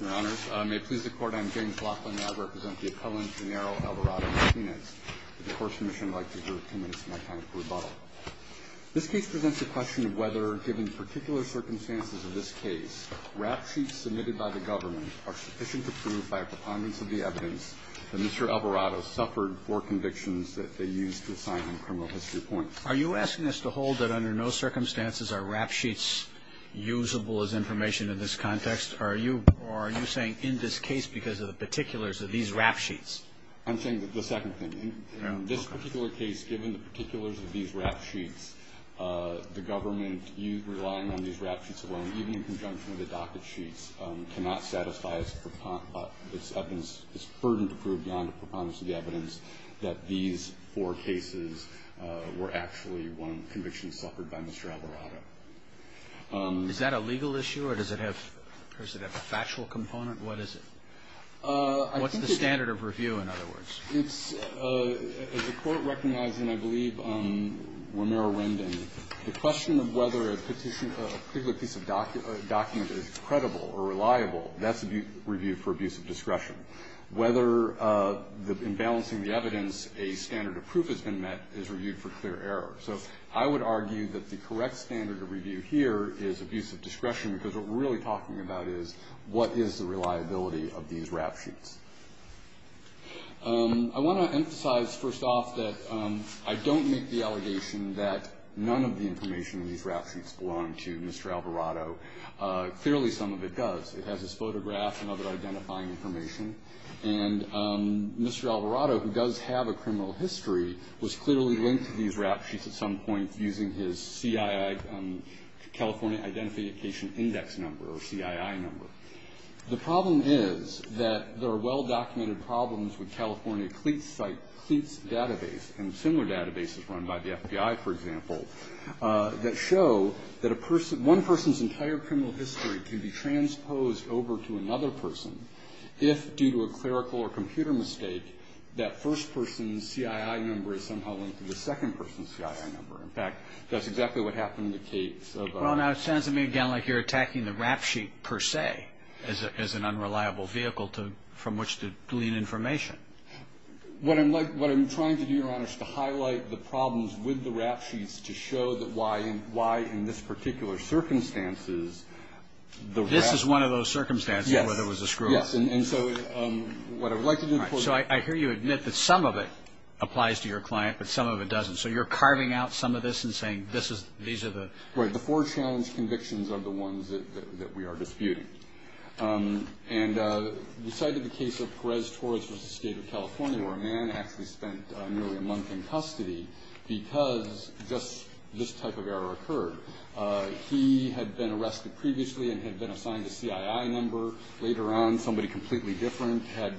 Your Honors, may it please the Court, I am James Laughlin, and I represent the appellant Genaro Alvarado-Martinez. The Court's Commission would like to defer two minutes to my time for rebuttal. This case presents the question of whether, given the particular circumstances of this case, rap sheets submitted by the government are sufficient to prove, by a preponderance of the evidence, that Mr. Alvarado suffered four convictions that they used to assign him criminal history points. Are you asking us to hold that under no circumstances are rap sheets usable as information in this context? Or are you saying, in this case, because of the particulars of these rap sheets? Genaro Alvarado-Martinez I'm saying the second thing. In this particular case, given the particulars of these rap sheets, the government, relying on these rap sheets alone, even in conjunction with the docket sheets, cannot satisfy its evidence, its burden to prove, beyond a preponderance of the evidence, that these four cases were actually convictions suffered by Mr. Alvarado. Roberts. Is that a legal issue, or does it have a factual component? What is it? What's the standard of review, in other words? Genaro Alvarado-Martinez It's a court recognizing, I believe, Romero-Rendon, the question of whether a particular piece of document is credible or reliable, that's a review for abuse of discretion. Whether, in balancing the evidence, a standard of proof has been met is reviewed for clear error. So I would argue that the correct standard of review here is abuse of discretion, because what we're really talking about is, what is the reliability of these rap sheets? I want to emphasize, first off, that I don't make the allegation that none of the information in these rap sheets belonged to Mr. Alvarado. Clearly, some of it does. It has his photograph and other identifying information. And Mr. Alvarado, who does have a criminal history, was clearly linked to these rap sheets at some point using his CII, California Identification Index number, or CII number. The problem is that there are well-documented problems with California CLEATS site, CLEATS database, and similar databases run by the FBI, for example, that show that a person entire criminal history can be transposed over to another person if, due to a clerical or computer mistake, that first person's CII number is somehow linked to the second person's CII number. In fact, that's exactly what happened in the case of our... Well, now, it sounds to me, again, like you're attacking the rap sheet, per se, as an unreliable vehicle from which to glean information. What I'm trying to do, Your Honor, is to highlight the problems with the rap sheets to show why, in this particular circumstances, the rap... This is one of those circumstances where there was a screw-up. Yes. And so what I would like to do... So I hear you admit that some of it applies to your client, but some of it doesn't. So you're carving out some of this and saying, these are the... Right. The four challenge convictions are the ones that we are disputing. And we cited the case of Perez Torres v. State of California, where a man actually spent nearly a month in custody because just this type of error occurred. He had been arrested previously and had been assigned a CII number. Later on, somebody completely different had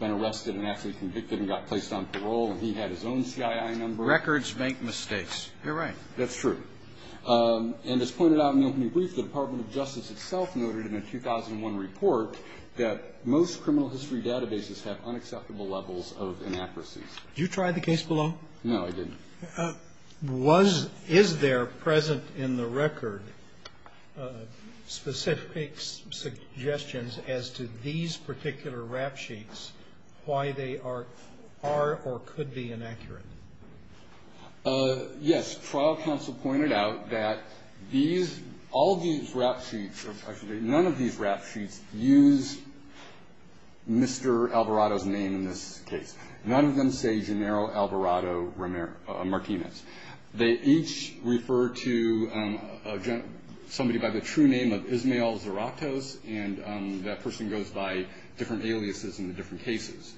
been arrested and actually convicted and got placed on parole, and he had his own CII number. Records make mistakes. You're right. That's true. And as pointed out in the opening brief, the Department of Justice itself noted in a 2001 report that most criminal history databases have unacceptable levels of inaccuracies. Did you try the case below? No, I didn't. Was...is there present in the record specific suggestions as to these particular rap sheets, why they are or could be inaccurate? Yes. Trial counsel pointed out that these...all these rap sheets... Actually, none of these rap sheets use Mr. Alvarado's name in this case. None of them say Genaro Alvarado Martinez. They each refer to somebody by the true name of Ismael Zarratos, and that person goes by different aliases in the different cases.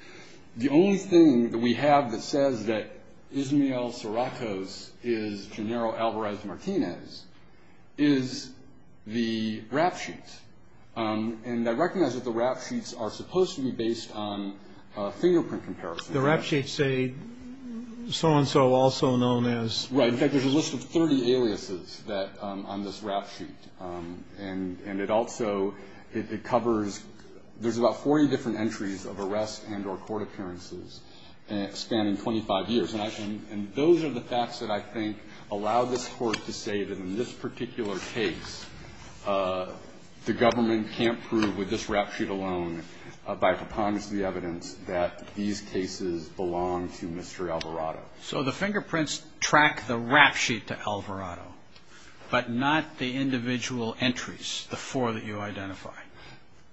The only thing that we have that says that Ismael Zarratos is Genaro Alvarado Martinez is the rap sheet. And I recognize that the rap sheets are supposed to be based on fingerprint comparison. The rap sheets say so-and-so also known as... Right. In fact, there's a list of 30 aliases that...on this rap sheet. And it also...it covers...there's about 40 different entries of arrests and or court appearances spanning 25 years. And those are the facts that I think allow this court to say that in this particular case, the government can't prove with this rap sheet alone by preponderance of the evidence that these cases belong to Mr. Alvarado. So the fingerprints track the rap sheet to Alvarado, but not the individual entries, the four that you identify.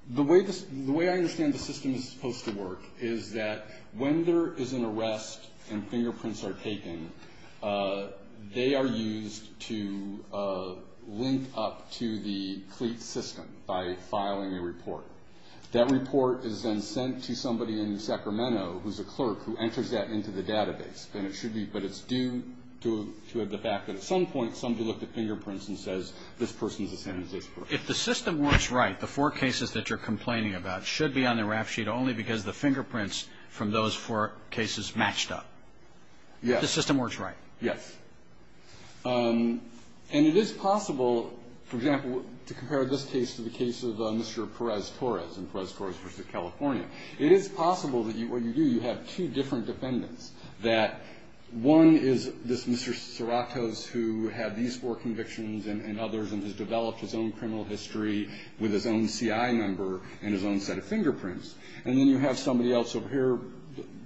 The way this...the way I understand the system is supposed to work is that when there is an arrest and fingerprints are taken, they are used to link up to the cleat system by filing a report. That report is then sent to somebody in Sacramento who's a clerk who enters that into the database. And it should be...but it's due to the fact that at some point somebody looked at fingerprints and says, this person's the same as this person. So if the system works right, the four cases that you're complaining about should be on the rap sheet only because the fingerprints from those four cases matched up? Yes. The system works right? Yes. And it is possible, for example, to compare this case to the case of Mr. Perez-Torres in Perez-Torres v. California. It is possible that what you do, you have two different defendants. That one is this Mr. Cerratos who had these four convictions and others and has developed his own criminal history with his own CII number and his own set of fingerprints. And then you have somebody else over here,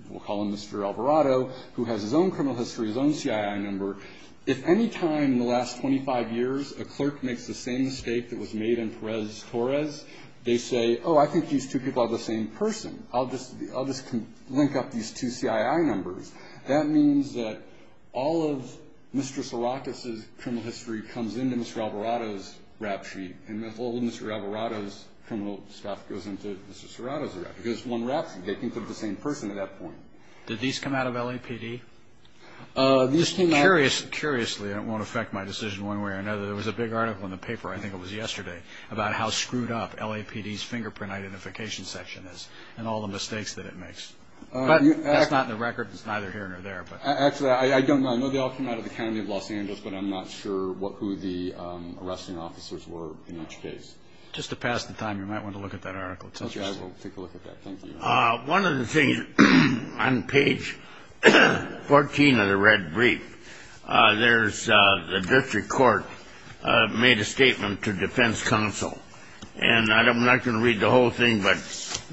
we'll call him Mr. Alvarado, who has his own criminal history, his own CII number. If any time in the last 25 years a clerk makes the same mistake that was made in Perez-Torres, they say, oh, I think these two people are the same person, I'll just link up these two CII numbers. That means that all of Mr. Cerratos' criminal history comes into Mr. Alvarado's rap sheet and the whole Mr. Alvarado's criminal stuff goes into Mr. Cerrato's rap sheet. Because one rap sheet, they can put the same person at that point. Did these come out of LAPD? Curiously, and it won't affect my decision one way or another, there was a big article in the paper, I think it was yesterday, about how screwed up LAPD's fingerprint identification section is and all the mistakes that it makes. That's not in the record, it's neither here nor there. Actually, I don't know. I know they all came out of the county of Los Angeles, but I'm not sure who the arresting officers were in each case. Just to pass the time, you might want to look at that article. Okay, I will take a look at that. Thank you. One of the things on page 14 of the red brief, there's the district court made a statement to defense counsel. And I'm not going to read the whole thing, but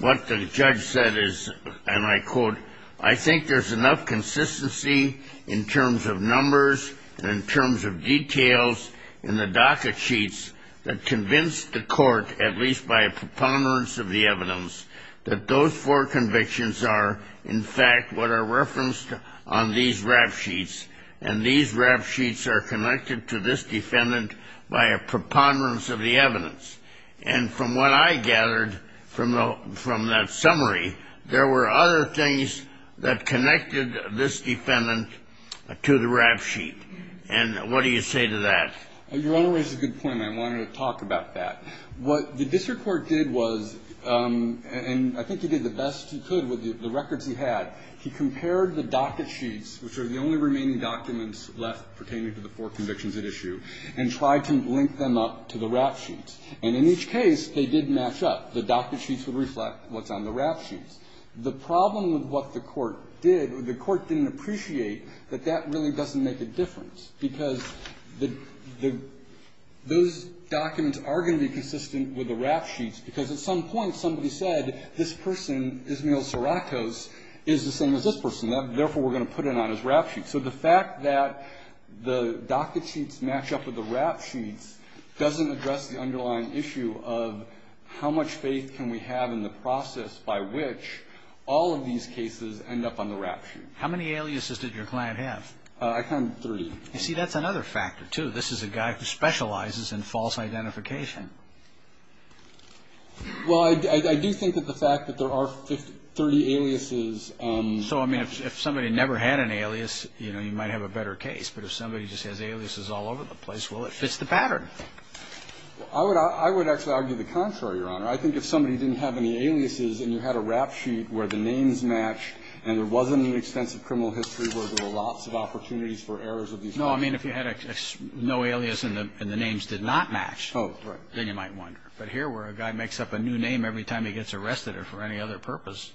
what the judge said is, and I quote, I think there's enough consistency in terms of numbers and in terms of details in the docket sheets that convinced the court, at least by a preponderance of the evidence, that those four convictions are, in fact, what are referenced on these rap sheets. And these rap sheets are connected to this defendant by a preponderance of the evidence. And from what I gathered from that summary, there were other things that connected this defendant to the rap sheet. And what do you say to that? Your Honor raises a good point, and I wanted to talk about that. What the district court did was, and I think he did the best he could with the records he had, he compared the docket sheets, which are the only remaining documents left pertaining to the four convictions at issue, and tried to link them up to the rap sheets. And in each case, they did match up. The docket sheets would reflect what's on the rap sheets. The problem with what the court did, the court didn't appreciate that that really doesn't make a difference, because the – those documents are going to be consistent with the rap sheets, because at some point somebody said, this person, Ismael Saracos, is the same as this person. Therefore, we're going to put it on his rap sheet. So the fact that the docket sheets match up with the rap sheets doesn't address the underlying issue of how much faith can we have in the process by which all of these cases end up on the rap sheet. How many aliases did your client have? I counted three. You see, that's another factor, too. This is a guy who specializes in false identification. Well, I do think that the fact that there are 30 aliases. So, I mean, if somebody never had an alias, you know, you might have a better case. But if somebody just has aliases all over the place, well, it fits the pattern. I would actually argue the contrary, Your Honor. I think if somebody didn't have any aliases and you had a rap sheet where the names match and there wasn't an extensive criminal history where there were lots of opportunities for errors of these kinds. No, I mean, if you had no alias and the names did not match, then you might wonder. But here where a guy makes up a new name every time he gets arrested or for any other purpose,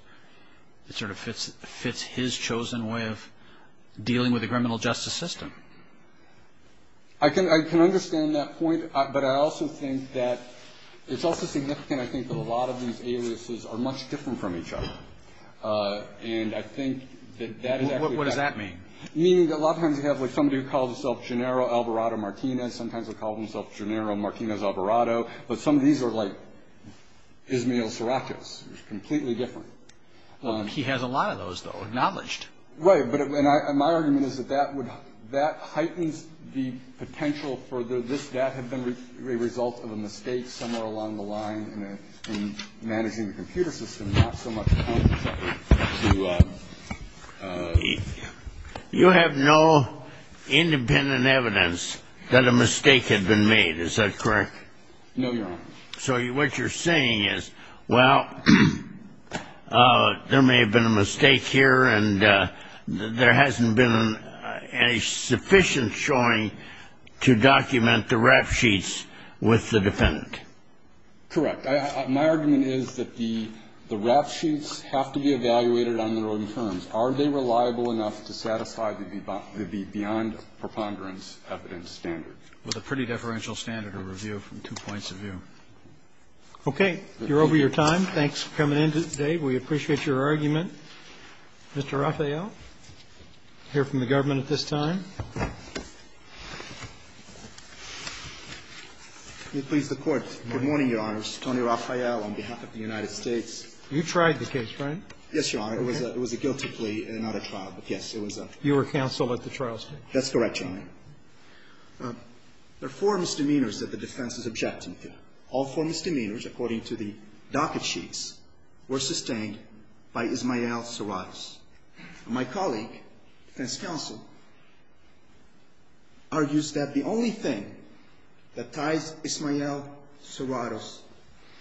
it sort of fits his chosen way of dealing with the criminal justice system. I can understand that point, but I also think that it's also significant, I think, that a lot of these aliases are much different from each other. And I think that that is actually a factor. What does that mean? Meaning that a lot of times you have, like, somebody who calls himself Gennaro Alvarado Martinez. Sometimes they call themselves Gennaro Martinez Alvarado. But some of these are like Ismael Siracus. It's completely different. He has a lot of those, though, acknowledged. Right. And my argument is that that heightens the potential for this death had been a result of a mistake somewhere along the line in managing the computer system, not so much a contract. You have no independent evidence that a mistake had been made. Is that correct? No, Your Honor. So what you're saying is, well, there may have been a mistake here, and there hasn't been a sufficient showing to document the rap sheets with the defendant. Correct. My argument is that the rap sheets have to be evaluated on their own terms. Are they reliable enough to satisfy the beyond preponderance evidence standard? With a pretty deferential standard of review from two points of view. Okay. You're over your time. Thanks for coming in today. We appreciate your argument. Mr. Raphael, hear from the government at this time. Let me please the Court. Good morning, Your Honors. Tony Raphael on behalf of the United States. You tried the case, right? Yes, Your Honor. It was a guilty plea and not a trial, but yes, it was a trial. You were counsel at the trial, sir. That's correct, Your Honor. There are four misdemeanors that the defense is objecting to. All four misdemeanors, according to the docket sheets, were sustained by Ismael Serratos. My colleague, defense counsel, argues that the only thing that ties Ismael Serratos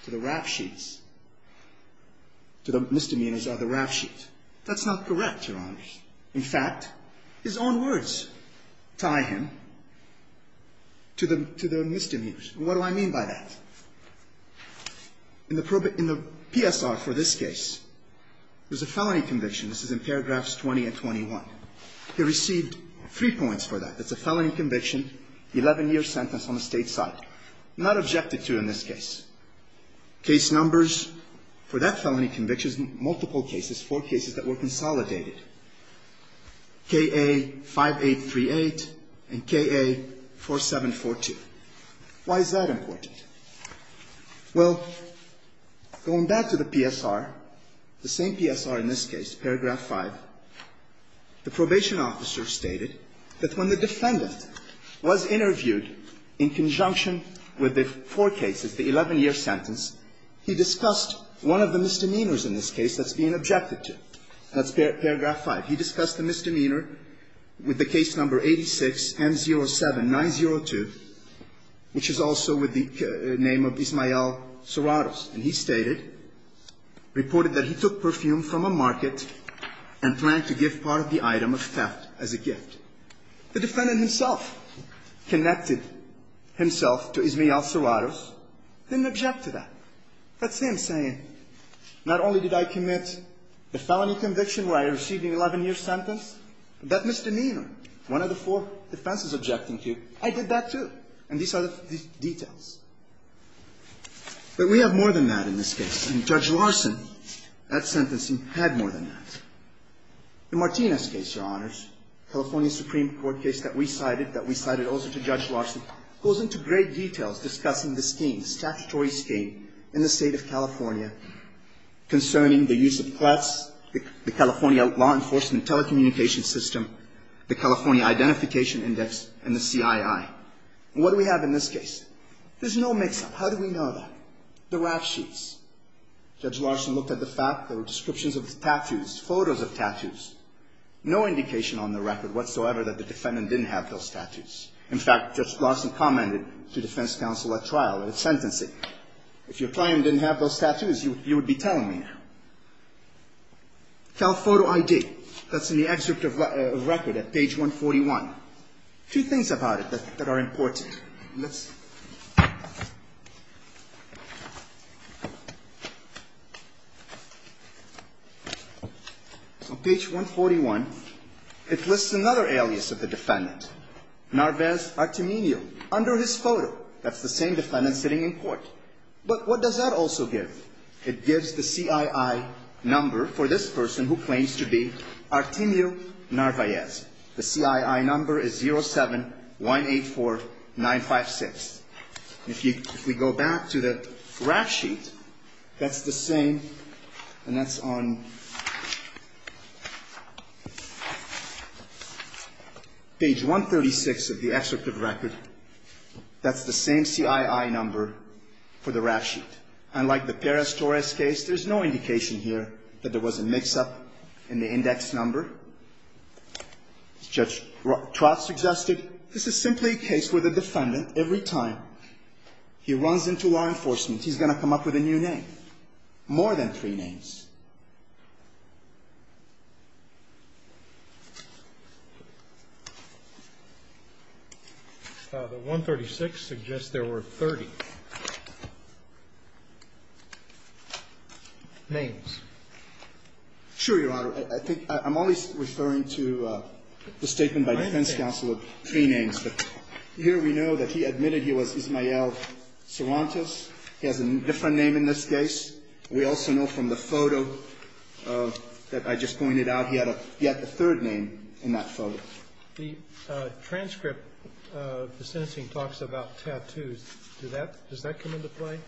to the rap sheets, to the misdemeanors of the rap sheet. That's not correct, Your Honors. In fact, his own words tie him to the misdemeanors. What do I mean by that? In the PSR for this case, there's a felony conviction. This is in paragraphs 20 and 21. He received three points for that. It's a felony conviction, 11-year sentence on the State side. Not objected to in this case. Case numbers for that felony conviction, multiple cases, four cases that were consolidated. KA-5838 and KA-4742. Why is that important? Well, going back to the PSR, the same PSR in this case, paragraph 5, the probation officer stated that when the defendant was interviewed in conjunction with the four cases, the 11-year sentence, he discussed one of the misdemeanors in this case that's being objected to. That's paragraph 5. He discussed the misdemeanor with the case number 86M07902, which is also with the name of Ismael Serratos. And he stated, reported that he took perfume from a market and planned to give part of the item of theft as a gift. The defendant himself connected himself to Ismael Serratos, didn't object to that. That's him saying, not only did I commit the felony conviction where I received an 11-year sentence, but that misdemeanor, one of the four defenses objecting to, I did that, too. And these are the details. But we have more than that in this case. And Judge Larson, that sentencing, had more than that. The Martinez case, Your Honors, California Supreme Court case that we cited, that we cited also to Judge Larson, goes into great details discussing the scheme, the statutory scheme in the State of California concerning the use of threats, the California Law Enforcement Telecommunications System, the California Identification Index, and the CII. And what do we have in this case? There's no mix-up. How do we know that? The rap sheets. Judge Larson looked at the fact that there were descriptions of tattoos, photos No indication on the record whatsoever that the defendant didn't have those tattoos. In fact, Judge Larson commented to defense counsel at trial in his sentencing, if your client didn't have those tattoos, you would be telling me now. Telephoto ID. That's in the excerpt of record at page 141. Two things about it that are important. Let's see. On page 141, it lists another alias of the defendant. Narvaez Artemio, under his photo. That's the same defendant sitting in court. But what does that also give? It gives the CII number for this person who claims to be Artemio Narvaez. The CII number is 07184956. If we go back to the rap sheet, that's the same, and that's on page 141. On page 136 of the excerpt of record, that's the same CII number for the rap sheet. Unlike the Perez-Torres case, there's no indication here that there was a mix-up in the index number. As Judge Trott suggested, this is simply a case where the defendant, every time he runs into law enforcement, he's going to come up with a new name. And he's going to come up with more than three names. The 136 suggests there were 30 names. Sure, Your Honor. I think I'm always referring to the statement by defense counsel of three names. But here we know that he admitted he was Ismael Sorantes. He has a different name in this case. We also know from the photo that I just pointed out, he had a third name in that photo. The transcript of the sentencing talks about tattoos. Does that come into play?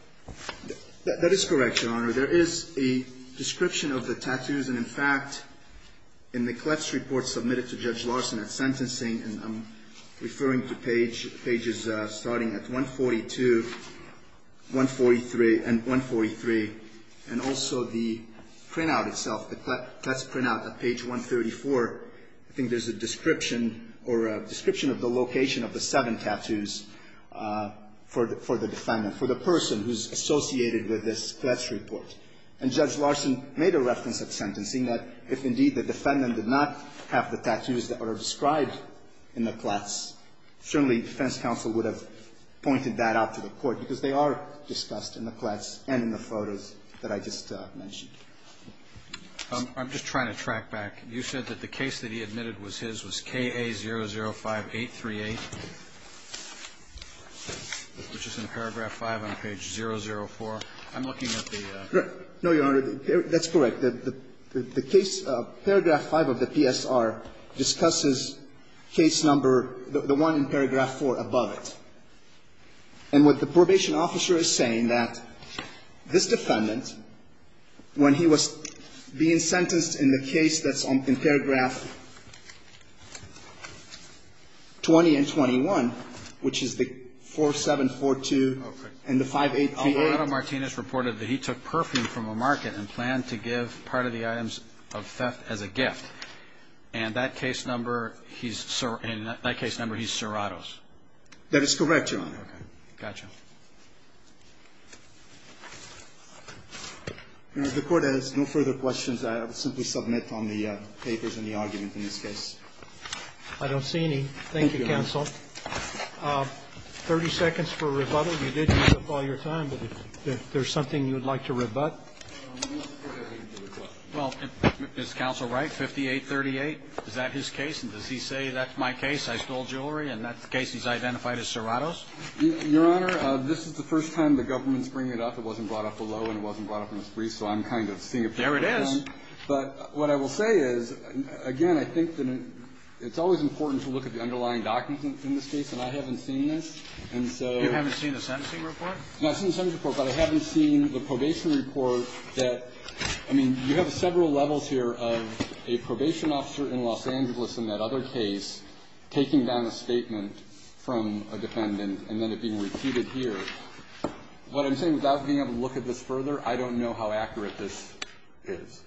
That is correct, Your Honor. There is a description of the tattoos. And, in fact, in the clefts report submitted to Judge Larson at sentencing, and I'm referring to pages starting at 142, 143, and 143, and also the printout itself, the clefts printout at page 134, I think there's a description or a description of the location of the seven tattoos for the defendant, for the person who's associated with this clefts report. And Judge Larson made a reference at sentencing that if, indeed, the defendant did not have the tattoos that are described in the clefts, certainly defense counsel would have pointed that out to the court, because they are discussed in the clefts and in the photos that I just mentioned. I'm just trying to track back. You said that the case that he admitted was his was KA005838, which is in paragraph 5 on page 004. I'm looking at the ---- No, Your Honor. That's correct. The case, paragraph 5 of the PSR, discusses case number, the one in paragraph 4 above it. And what the probation officer is saying that this defendant, when he was being sentenced in the case that's in paragraph 20 and 21, which is the 4742 and the 5838 that he took perfume from a market and planned to give part of the items of theft as a gift. And that case number, he's, in that case number, he's Serrato's. That is correct, Your Honor. Okay. Gotcha. If the Court has no further questions, I will simply submit on the papers and the argument in this case. I don't see any. Thank you, counsel. Thank you, Your Honor. 30 seconds for rebuttal. You did use up all your time. But if there's something you would like to rebut. Well, is counsel right? 5838, is that his case? And does he say that's my case? I stole jewelry. And that's the case he's identified as Serrato's? Your Honor, this is the first time the government's bringing it up. It wasn't brought up below and it wasn't brought up in this brief. So I'm kind of seeing a picture of that. There it is. But what I will say is, again, I think that it's always important to look at the underlying documents in this case. And I haven't seen this. And so. You haven't seen the sentencing report? No, I've seen the sentencing report. But I haven't seen the probation report that, I mean, you have several levels here of a probation officer in Los Angeles in that other case taking down a statement from a defendant and then it being repeated here. What I'm saying, without being able to look at this further, I don't know how accurate this is.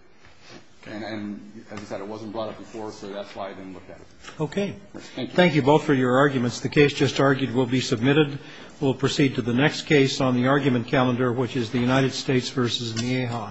And as I said, it wasn't brought up before, so that's why I didn't look at it. Okay. Thank you. Thank you both for your arguments. The case just argued will be submitted. We'll proceed to the next case on the argument calendar, which is the United States v. Nieha.